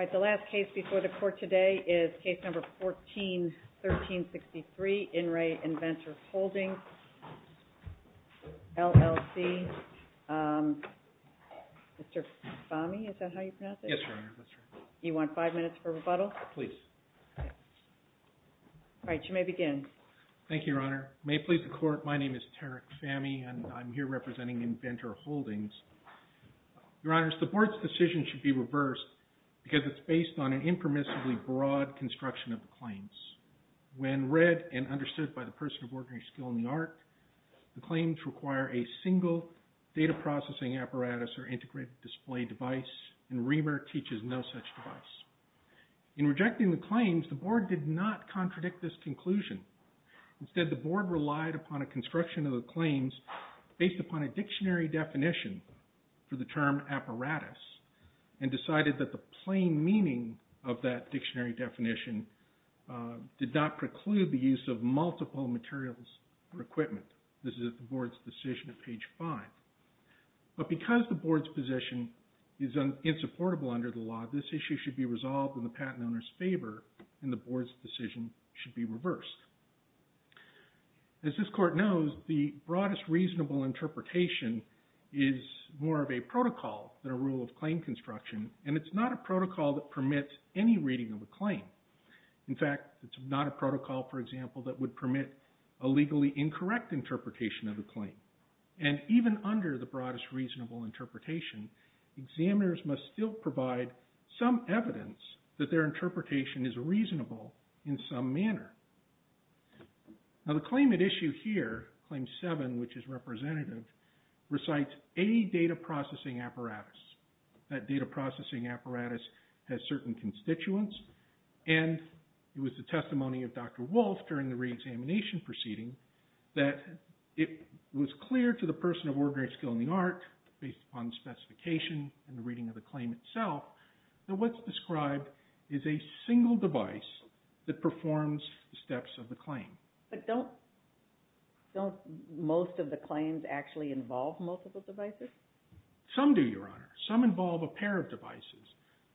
All right, the last case before the court today is Case Number 14-1363, In Re Inventor Holdings, LLC. Mr. Fahmy, is that how you pronounce it? Yes, Your Honor, that's right. Do you want five minutes for rebuttal? Please. All right, you may begin. Thank you, Your Honor. May it please the court, my name is Tarek Fahmy and I'm here representing Inventor Holdings. Your Honor, the board's decision should be reversed because it's based on an impermissibly broad construction of the claims. When read and understood by the person of ordinary skill in the art, the claims require a single data processing apparatus or integrated display device and RIMR teaches no such device. In rejecting the claims, the board did not contradict this conclusion. Instead, the board relied upon a construction of the claims based upon a dictionary definition for the term apparatus and decided that the plain meaning of that dictionary definition did not preclude the use of multiple materials or equipment. This is the board's decision at page 5. But because the board's position is insupportable under the law, this issue should be resolved in the patent owner's favor and the board's decision should be reversed. As this court knows, the broadest reasonable interpretation is more of a protocol than a rule of claim construction and it's not a protocol that permits any reading of a claim. In fact, it's not a protocol, for example, that would permit a legally incorrect interpretation of a claim. And even under the broadest reasonable interpretation, examiners must still provide some evidence that their interpretation is reasonable in some manner. Now the claim at issue here, Claim 7, which is representative, recites a data processing apparatus. That data processing apparatus has certain constituents and it was the testimony of Dr. Wolf during the reexamination proceeding that it was clear to the person of ordinary skill in the art, based upon specification and the reading of the claim itself, that what's described is a single device that performs the steps of the claim. But don't most of the claims actually involve multiple devices? Some do, Your Honor. Some involve a pair of devices.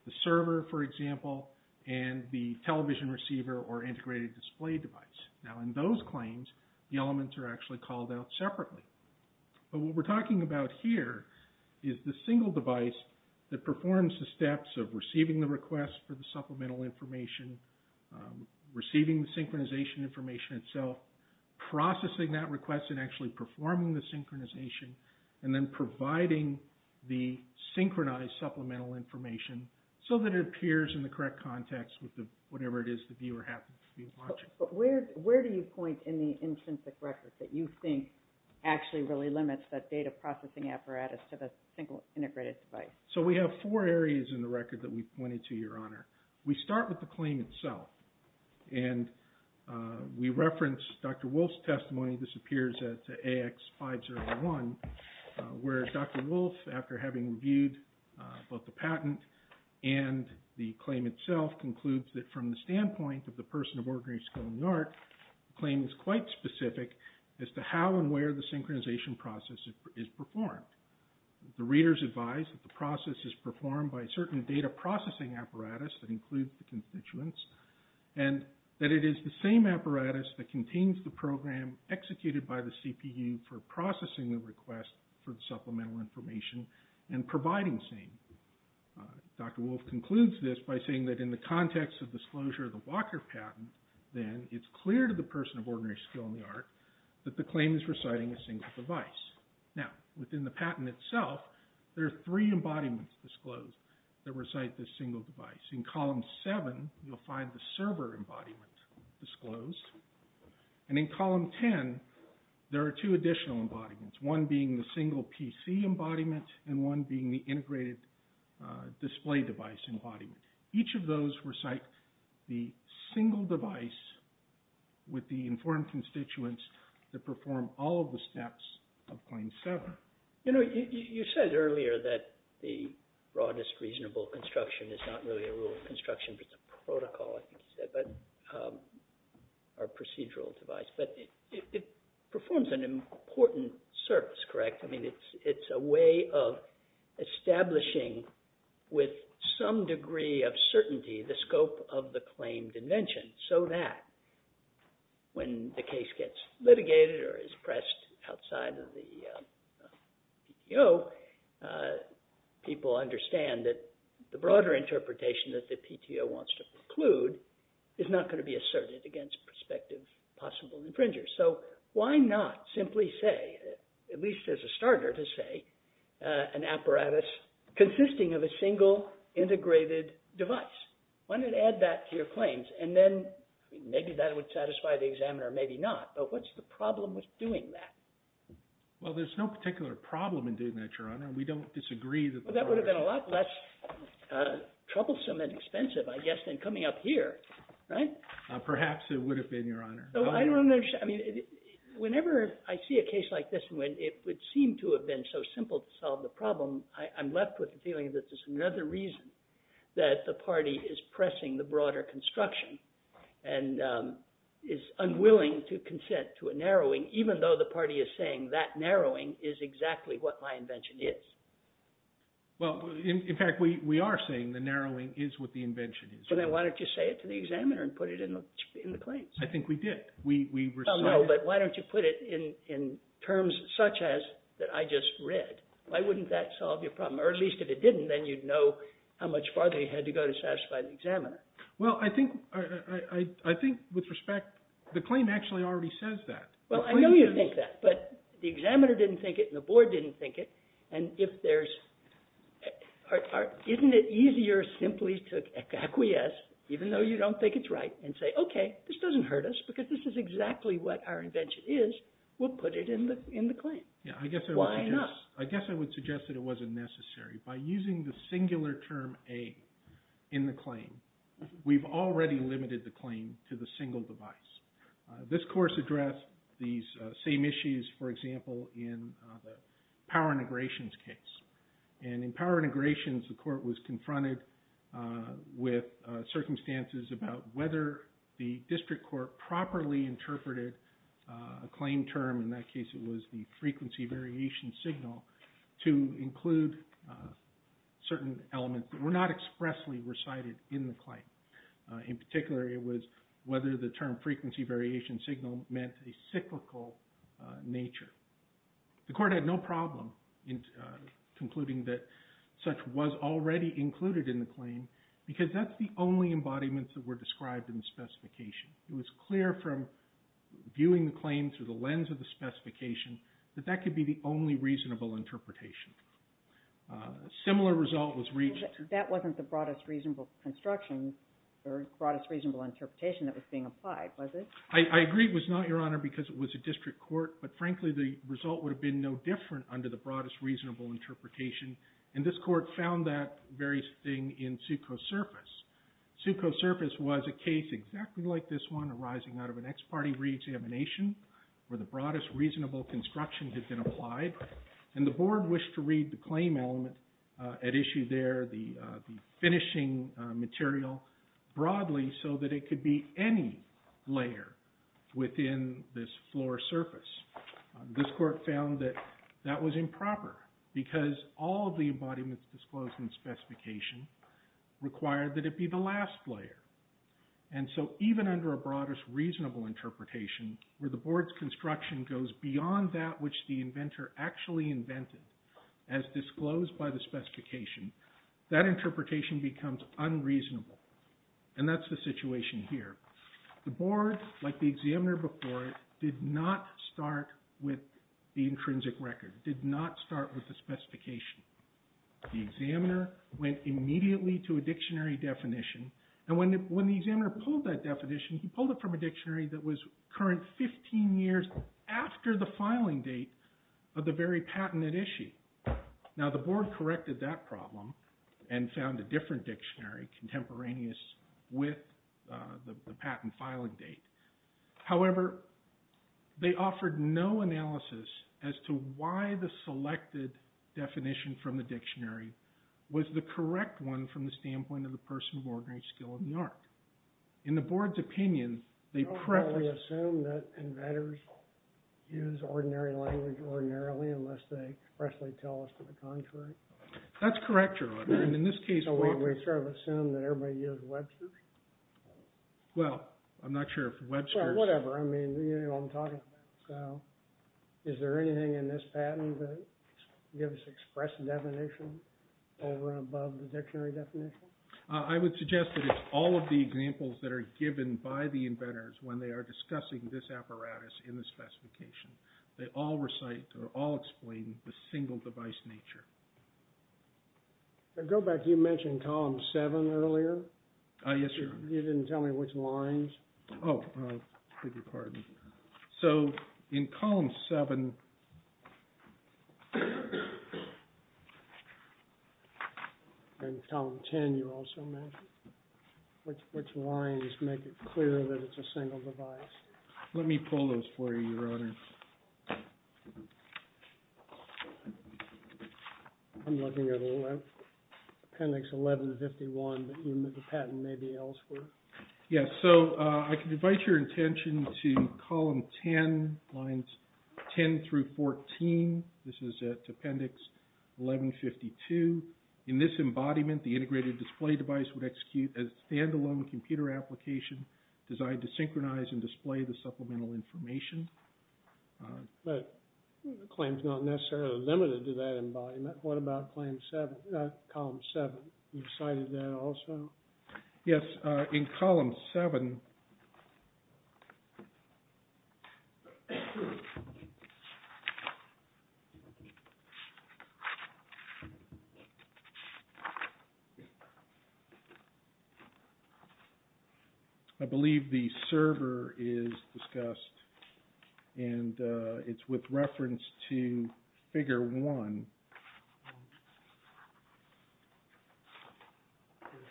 The server, for example, and the television receiver or integrated display device. Now in those claims, the elements are actually called out separately. But what we're talking about here is the single device that performs the steps of receiving the request for the supplemental information, receiving the synchronization information itself, processing that request and actually performing the synchronization, and then providing the synchronized supplemental information so that it appears in the correct context with whatever it is the viewer happens to be watching. But where do you point in the intrinsic record that you think actually really limits that data processing apparatus to the single integrated device? So we have four areas in the record that we've pointed to, Your Honor. We start with the claim itself. And we reference Dr. Wolf's testimony. This appears at AX501, where Dr. Wolf, after having reviewed both the patent and the claim itself, concludes that from the standpoint of the person of ordinary skill in the art, the claim is quite specific as to how and where the synchronization process is performed. The readers advise that the process is performed by a certain data processing apparatus that includes the constituents and that it is the same apparatus that contains the program executed by the CPU for processing the request for the supplemental information and providing the same. Dr. Wolf concludes this by saying that in the context of disclosure of the Walker patent, then, it's clear to the person of ordinary skill in the art that the claim is reciting a single device. Now, within the patent itself, there are three embodiments disclosed that recite this single device. In column seven, you'll find the server embodiment disclosed. And in column 10, there are two additional embodiments, one being the single PC embodiment and one being the integrated display device embodiment. Each of those recite the single device with the informed constituents that perform all of the steps of claim seven. You know, you said earlier that the broadest reasonable construction is not really a rule of construction, but it's a protocol, I think you said, or procedural device. But it performs an important service, correct? I mean, it's a way of establishing with some degree of certainty the scope of the claim dimension so that when the case gets litigated or is pressed outside of the PTO, people understand that the broader interpretation that the PTO wants to preclude is not going to be asserted against prospective possible infringers. So why not simply say, at least as a starter to say, an apparatus consisting of a single integrated device? Why not add that to your claims? And then maybe that would satisfy the examiner, maybe not. But what's the problem with doing that? Well, there's no particular problem in doing that, Your Honor. We don't disagree that the… Well, that would have been a lot less troublesome and expensive, I guess, than coming up here, right? Perhaps it would have been, Your Honor. I don't understand. I mean, whenever I see a case like this, when it would seem to have been so simple to solve the problem, I'm left with the feeling that there's another reason that the party is pressing the broader construction and is unwilling to consent to a narrowing, even though the party is saying that narrowing is exactly what my invention is. Well, in fact, we are saying the narrowing is what the invention is. Then why don't you say it to the examiner and put it in the claims? I think we did. Well, no, but why don't you put it in terms such as that I just read? Why wouldn't that solve your problem? Or at least if it didn't, then you'd know how much farther you had to go to satisfy the examiner. Well, I think with respect, the claim actually already says that. Well, I know you think that, but the examiner didn't think it and the board didn't think it, and isn't it easier simply to acquiesce, even though you don't think it's right, and say, okay, this doesn't hurt us because this is exactly what our invention is. We'll put it in the claim. Why not? I guess I would suggest that it wasn't necessary. By using the singular term A in the claim, we've already limited the claim to the single device. This course addressed these same issues, for example, in the power integrations case. In power integrations, the court was confronted with circumstances about whether the district court properly interpreted a claim term. In that case, it was the frequency variation signal to include certain elements that were not expressly recited in the claim. In particular, it was whether the term frequency variation signal meant a cyclical nature. The court had no problem in concluding that such was already included in the claim because that's the only embodiment that were described in the specification. It was clear from viewing the claim through the lens of the specification that that could be the only reasonable interpretation. A similar result was reached. That wasn't the broadest reasonable construction or broadest reasonable interpretation that was being applied, was it? I agree it was not, Your Honor, because it was a district court, but frankly, the result would have been no different under the broadest reasonable interpretation. This court found that very thing in Succo Surface. Succo Surface was a case exactly like this one arising out of an ex parte reexamination where the broadest reasonable construction had been applied. The board wished to read the claim element at issue there, the finishing material broadly so that it could be any layer within this floor surface. This court found that that was improper because all of the embodiments disclosed in the specification required that it be the last layer. Even under a broadest reasonable interpretation where the board's construction goes beyond that which the inventor actually invented as disclosed by the specification, that interpretation becomes unreasonable. That's the situation here. The board, like the examiner before it, did not start with the intrinsic record, did not start with the specification. The examiner went immediately to a dictionary definition, and when the examiner pulled that definition, he pulled it from a dictionary that was current 15 years after the filing date of the very patented issue. Now the board corrected that problem and found a different dictionary contemporaneous with the patent filing date. However, they offered no analysis as to why the selected definition from the dictionary was the correct one from the standpoint of the person of ordinary skill of New York. In the board's opinion, they preface... Don't we assume that inventors use ordinary language ordinarily unless they expressly tell us to the contrary? That's correct, Your Honor, and in this case... So we sort of assume that everybody uses Webster's? Well, I'm not sure if Webster's... Whatever, I mean, you know what I'm talking about. So is there anything in this patent that gives express definition over and above the dictionary definition? I would suggest that it's all of the examples that are given by the inventors when they are discussing this apparatus in the specification. They all recite or all explain the single device nature. Now go back, you mentioned column 7 earlier. Yes, Your Honor. You didn't tell me which lines. Oh, I beg your pardon. So in column 7... And column 10 you also mentioned. Which lines make it clear that it's a single device? Let me pull those for you, Your Honor. I'm looking at appendix 1151, but the patent may be elsewhere. Yes, so I can invite your attention to column 10, lines 10 through 14. This is at appendix 1152. In this embodiment, the integrated display device would execute a standalone computer application designed to synchronize and display the supplemental information. But the claim is not necessarily limited to that embodiment. What about column 7? You cited that also? Yes, in column 7... I believe the server is discussed and it's with reference to figure 1. I'm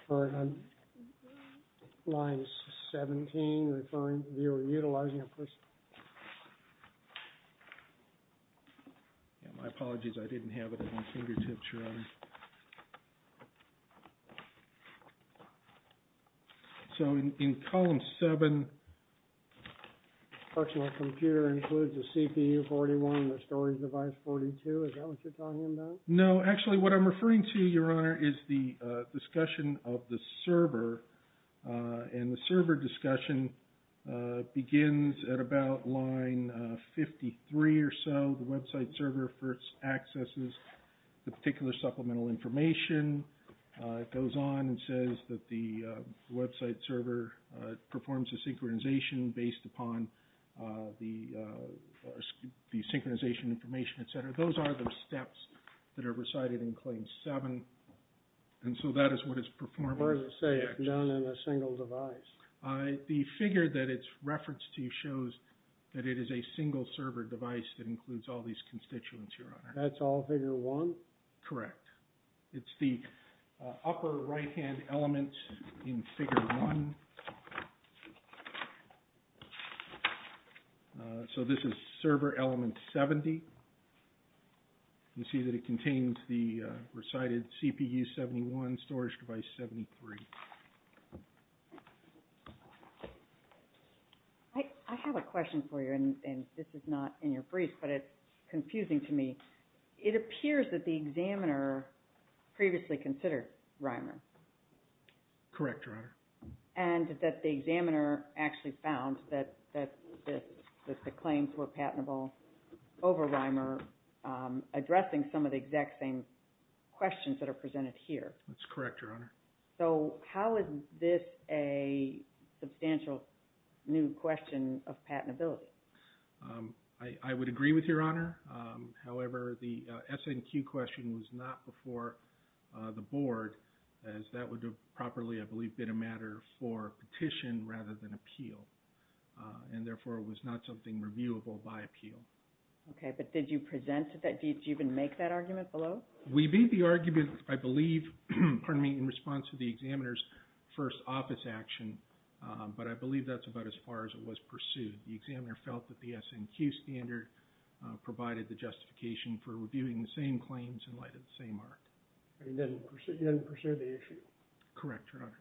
sorry, line 17, referring to utilizing a personal... My apologies, I didn't have it at my fingertips, Your Honor. So in column 7... A functional computer includes a CPU 41 and a storage device 42. Is that what you're talking about? No, actually what I'm referring to, Your Honor, is the discussion of the server. And the server discussion begins at about line 53 or so. The website server first accesses the particular supplemental information. It goes on and says that the website server performs a synchronization based upon the synchronization information, et cetera. Those are the steps that are recited in claim 7. And so that is what it's performing. It's known as a single device. The figure that it's referenced to shows that it is a single server device that includes all these constituents, Your Honor. That's all figure 1? Correct. It's the upper right-hand element in figure 1. So this is server element 70. You see that it contains the recited CPU 71, storage device 73. I have a question for you, and this is not in your brief, but it's confusing to me. It appears that the examiner previously considered Rymer. Correct, Your Honor. And that the examiner actually found that the claims were patentable over Rymer, addressing some of the exact same questions that are presented here. That's correct, Your Honor. So how is this a substantial new question of patentability? However, the SNQ question was not before the board, as that would have properly, I believe, been a matter for petition rather than appeal. And therefore, it was not something reviewable by appeal. Okay. But did you present it? Did you even make that argument below? We made the argument, I believe, in response to the examiner's first office action, but I believe that's about as far as it was pursued. The examiner felt that the SNQ standard provided the justification for reviewing the same claims in light of the same art. You didn't pursue the issue? Correct, Your Honor.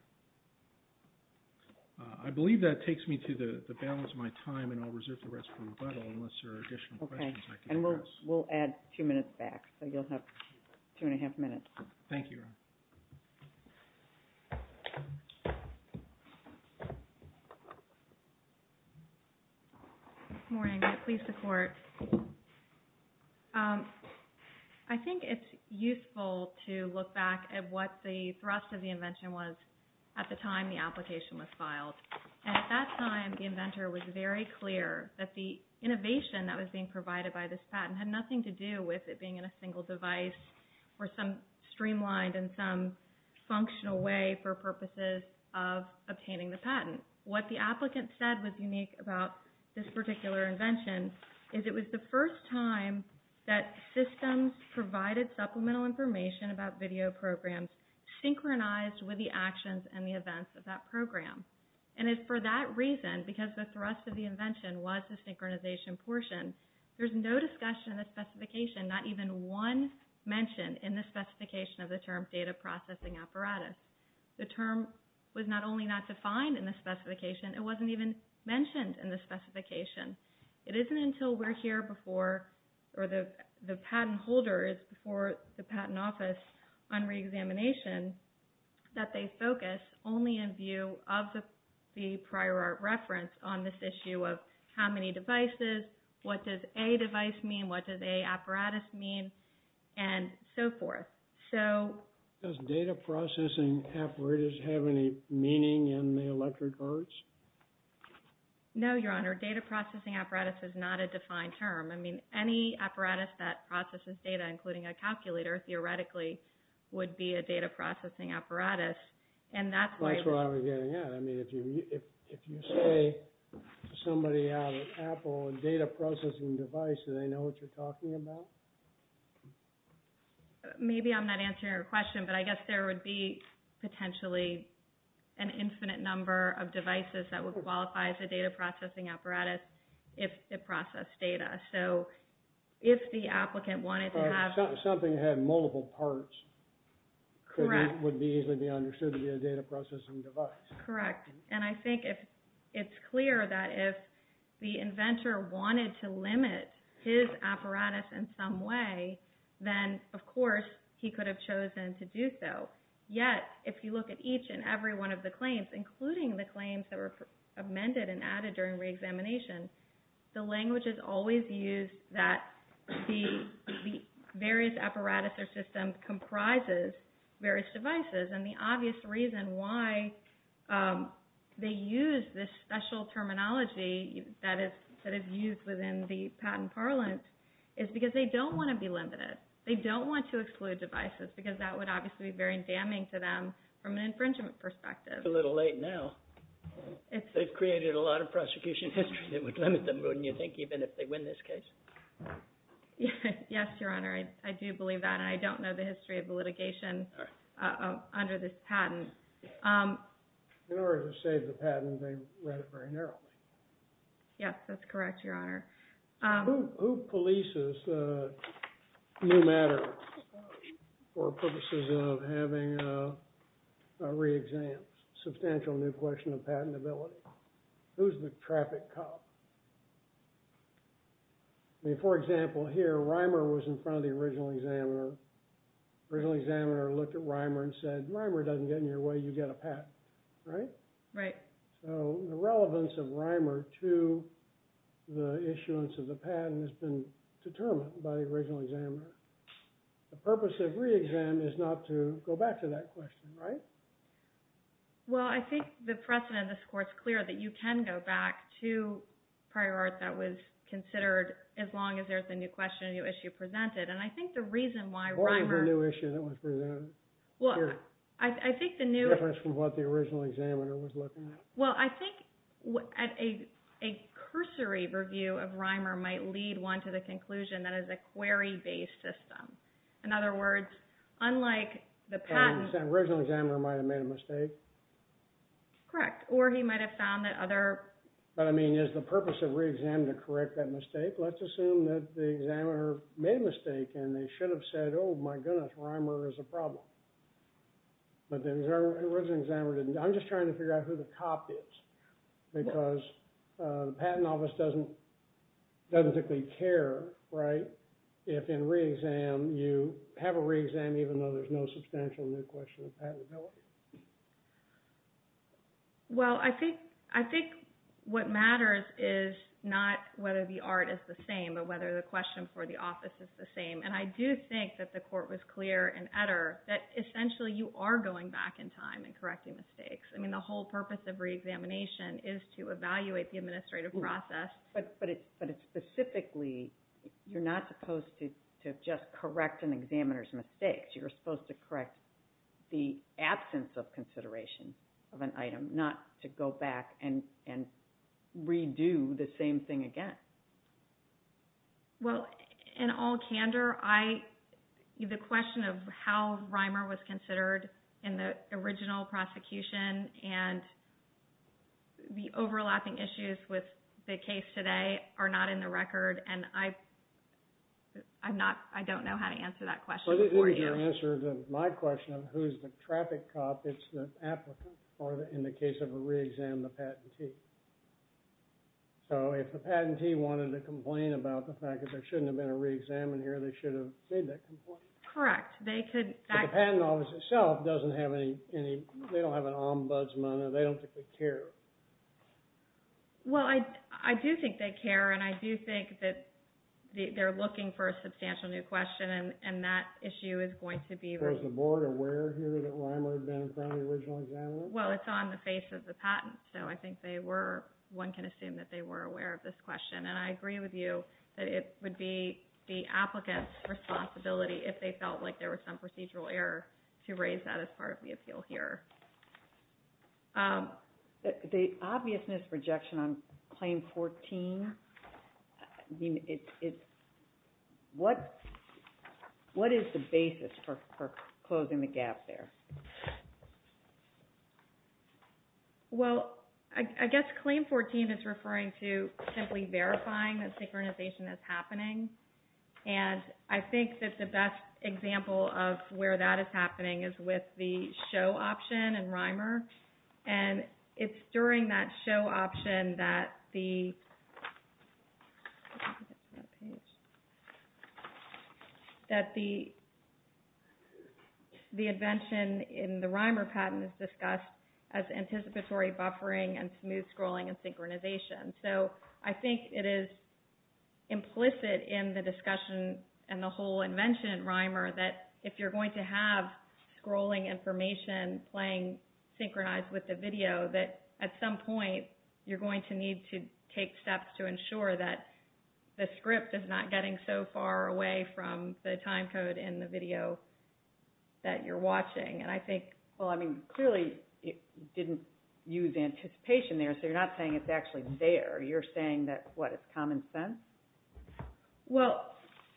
I believe that takes me to the balance of my time, and I'll reserve the rest for rebuttal unless there are additional questions I can address. Okay. And we'll add two minutes back, so you'll have two and a half minutes. Thank you, Your Honor. Good morning. Please support. I think it's useful to look back at what the thrust of the invention was at the time the application was filed. And at that time, the inventor was very clear that the innovation that was being provided by this patent had nothing to do with it being in a single device or some streamlined and some functional way for purposes of obtaining the patent. What the applicant said was unique about this particular invention is it was the first time that systems provided supplemental information about video programs synchronized with the actions and the events of that program. And it's for that reason, because the thrust of the invention was the synchronization portion, there's no discussion of the specification, not even one mention in the specification of the term data processing apparatus. The term was not only not defined in the specification, it wasn't even mentioned in the specification. It isn't until we're here before, or the patent holder is before the patent office on reexamination, that they focus only in view of the prior art reference on this issue of how many devices, what does a device mean, what does a apparatus mean, and so forth. Does data processing apparatus have any meaning in the electric arts? No, Your Honor, data processing apparatus is not a defined term. I mean, any apparatus that processes data, including a calculator, theoretically, would be a data processing apparatus. That's where I was getting at. I mean, if you say to somebody out at Apple, a data processing device, do they know what you're talking about? Maybe I'm not answering your question, but I guess there would be potentially an infinite number of devices that would qualify as a data processing apparatus if it processed data. So, if the applicant wanted to have... Something that had multiple parts would easily be understood to be a data processing device. Correct. And I think it's clear that if the inventor wanted to limit his apparatus in some way, then, of course, he could have chosen to do so. Yet, if you look at each and every one of the claims, including the claims that were amended and added during reexamination, the language is always used that the various apparatus or system comprises various devices. And the obvious reason why they use this special terminology that is used within the patent parlance is because they don't want to be limited. They don't want to exclude devices because that would obviously be very damning to them from an infringement perspective. It's a little late now. They've created a lot of prosecution history that would limit them, wouldn't you think, even if they win this case? Yes, Your Honor. I do believe that, and I don't know the history of the litigation under this patent. In order to save the patent, they read it very narrowly. Yes, that's correct, Your Honor. Who polices new matters for purposes of having reexams? Substantial new question of patentability. Who's the traffic cop? For example, here, Reimer was in front of the original examiner. The original examiner looked at Reimer and said, Reimer doesn't get in your way. You get a patent, right? Right. So the relevance of Reimer to the issuance of the patent has been determined by the original examiner. The purpose of reexam is not to go back to that question, right? Well, I think the precedent in this court is clear that you can go back to prior art that was considered, as long as there's a new question, a new issue presented. And I think the reason why Reimer… What is the new issue that was presented? Well, I think the new… The difference from what the original examiner was looking at. Well, I think a cursory review of Reimer might lead one to the conclusion that it's a query-based system. In other words, unlike the patent… The original examiner might have made a mistake. Correct. Or he might have found that other… But, I mean, is the purpose of reexam to correct that mistake? Let's assume that the examiner made a mistake and they should have said, oh, my goodness, Reimer is a problem. But the original examiner didn't. I'm just trying to figure out who the cop is because the patent office doesn't particularly care, right, if in reexam you have a reexam even though there's no substantial new question of patentability. Well, I think what matters is not whether the art is the same, but whether the question for the office is the same. And I do think that the court was clear in Etter that, essentially, you are going back in time and correcting mistakes. I mean, the whole purpose of reexamination is to evaluate the administrative process. But specifically, you're not supposed to just correct an examiner's mistakes. You're supposed to correct the absence of consideration of an item, not to go back and redo the same thing again. Well, in all candor, the question of how Reimer was considered in the original prosecution and the overlapping issues with the case today are not in the record. And I don't know how to answer that question for you. Well, this isn't your answer to my question of who's the traffic cop. It's the applicant in the case of a reexam, the patentee. So if the patentee wanted to complain about the fact that there shouldn't have been a reexam in here, they should have made that complaint? Correct. But the patent office itself doesn't have an ombudsman. They don't think they care. Well, I do think they care. And I do think that they're looking for a substantial new question. And that issue is going to be raised. So is the board aware here that Reimer had been in front of the original examiner? Well, it's on the face of the patent. So I think one can assume that they were aware of this question. And I agree with you that it would be the applicant's responsibility, if they felt like there was some procedural error, to raise that as part of the appeal here. The obviousness rejection on Claim 14, what is the basis for closing the gap there? Well, I guess Claim 14 is referring to simply verifying that synchronization is happening. And I think that the best example of where that is happening is with the show option in Reimer. And it's during that show option that the invention in the Reimer patent is discussed as anticipatory buffering and smooth scrolling and synchronization. So I think it is implicit in the discussion and the whole invention in Reimer that if you're going to have scrolling information playing synchronized with the video, that at some point you're going to need to take steps to ensure that the script is not getting so far away from the time code in the video that you're watching. Well, I mean, clearly it didn't use anticipation there. So you're not saying it's actually there. You're saying that, what, it's common sense? Well,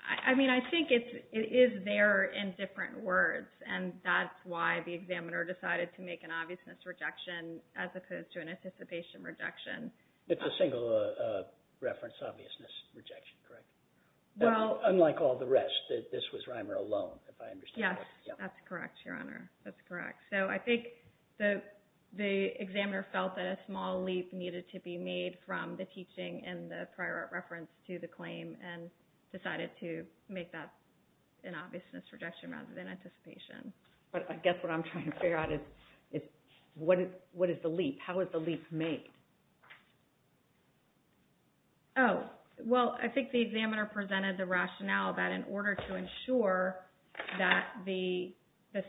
I mean, I think it is there in different words, and that's why the examiner decided to make an obviousness rejection as opposed to an anticipation rejection. It's a single reference obviousness rejection, correct? Well... Unlike all the rest. This was Reimer alone, if I understand it. Yes, that's correct, Your Honor. That's correct. So I think the examiner felt that a small leap needed to be made from the teaching and the prior art reference to the claim and decided to make that an obviousness rejection rather than anticipation. But I guess what I'm trying to figure out is what is the leap? How is the leap made? Oh, well, I think the examiner presented the rationale that in order to ensure that the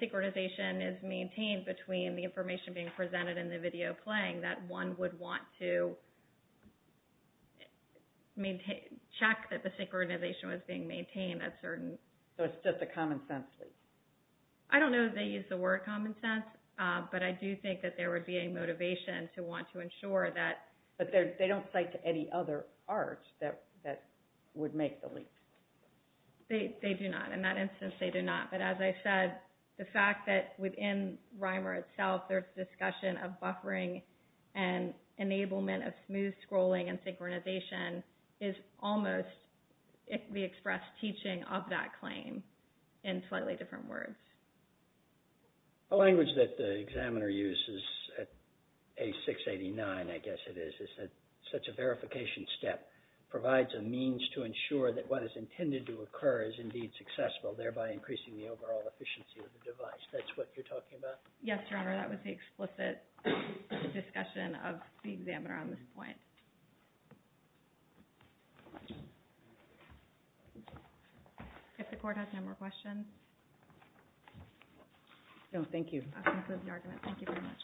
synchronization is maintained between the information being presented and the video playing, that one would want to check that the synchronization was being maintained at certain... So it's just a common sense leap? I don't know if they used the word common sense, but I do think that there would be a motivation to want to ensure that... But they don't cite any other art that would make the leap. They do not. In that instance, they do not. But as I said, the fact that within Reimer itself there's discussion of buffering and enablement of smooth scrolling and synchronization is almost the expressed teaching of that claim in slightly different words. The language that the examiner uses at 8689, I guess it is, is that such a verification step provides a means to ensure that what is intended to occur is indeed successful, thereby increasing the overall efficiency of the device. That's what you're talking about? Yes, Your Honor, that was the explicit discussion of the examiner on this point. If the Court has no more questions. No, thank you. That concludes the argument. Thank you very much.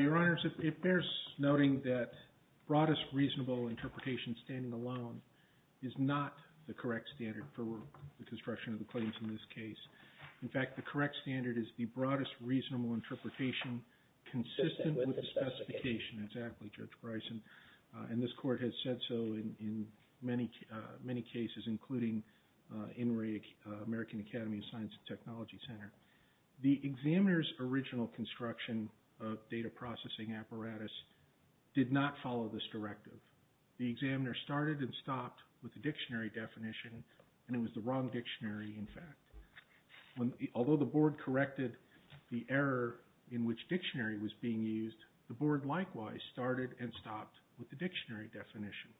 Your Honor, it bears noting that broadest reasonable interpretation standing alone is not the correct standard for the construction of the claims in this case. In fact, the correct standard is the broadest reasonable interpretation consistent with the specification. Exactly, Judge Bryson. And this Court has said so in many cases, including in American Academy of Science and Technology Center. The examiner's original construction of data processing apparatus did not follow this directive. The examiner started and stopped with the dictionary definition, and it was the wrong dictionary, in fact. Although the Board corrected the error in which dictionary was being used, the Board likewise started and stopped with the dictionary definition,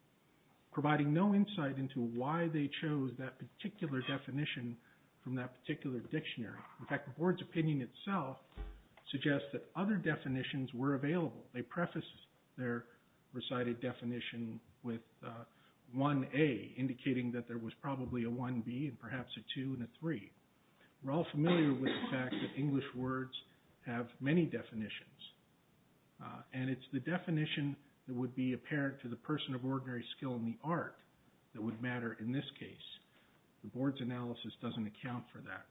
providing no insight into why they chose that particular definition from that particular dictionary. In fact, the Board's opinion itself suggests that other definitions were available. They prefaced their recited definition with 1A, indicating that there was probably a 1B and perhaps a 2 and a 3. We're all familiar with the fact that English words have many definitions, and it's the definition that would be apparent to the person of ordinary skill in the art that would matter in this case. The Board's analysis doesn't account for that.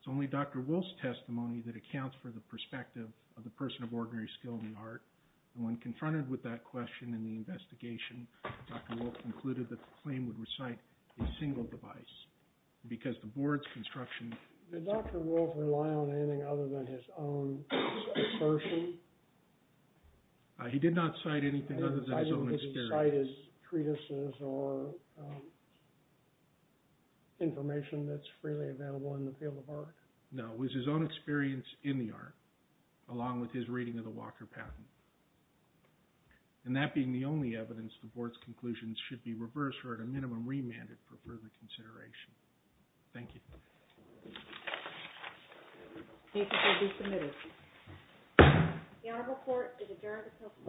It's only Dr. Wolfe's testimony that accounts for the perspective of the person of ordinary skill in the art. When confronted with that question in the investigation, Dr. Wolfe concluded that the claim would recite a single device. Because the Board's construction… Did Dr. Wolfe rely on anything other than his own assertion? He did not cite anything other than his own experience. He didn't cite his treatises or information that's freely available in the field of art? No, it was his own experience in the art, along with his reading of the Walker Patent. And that being the only evidence, the Board's conclusions should be reversed or at a minimum remanded for further consideration. Thank you. Thank you for being submitted.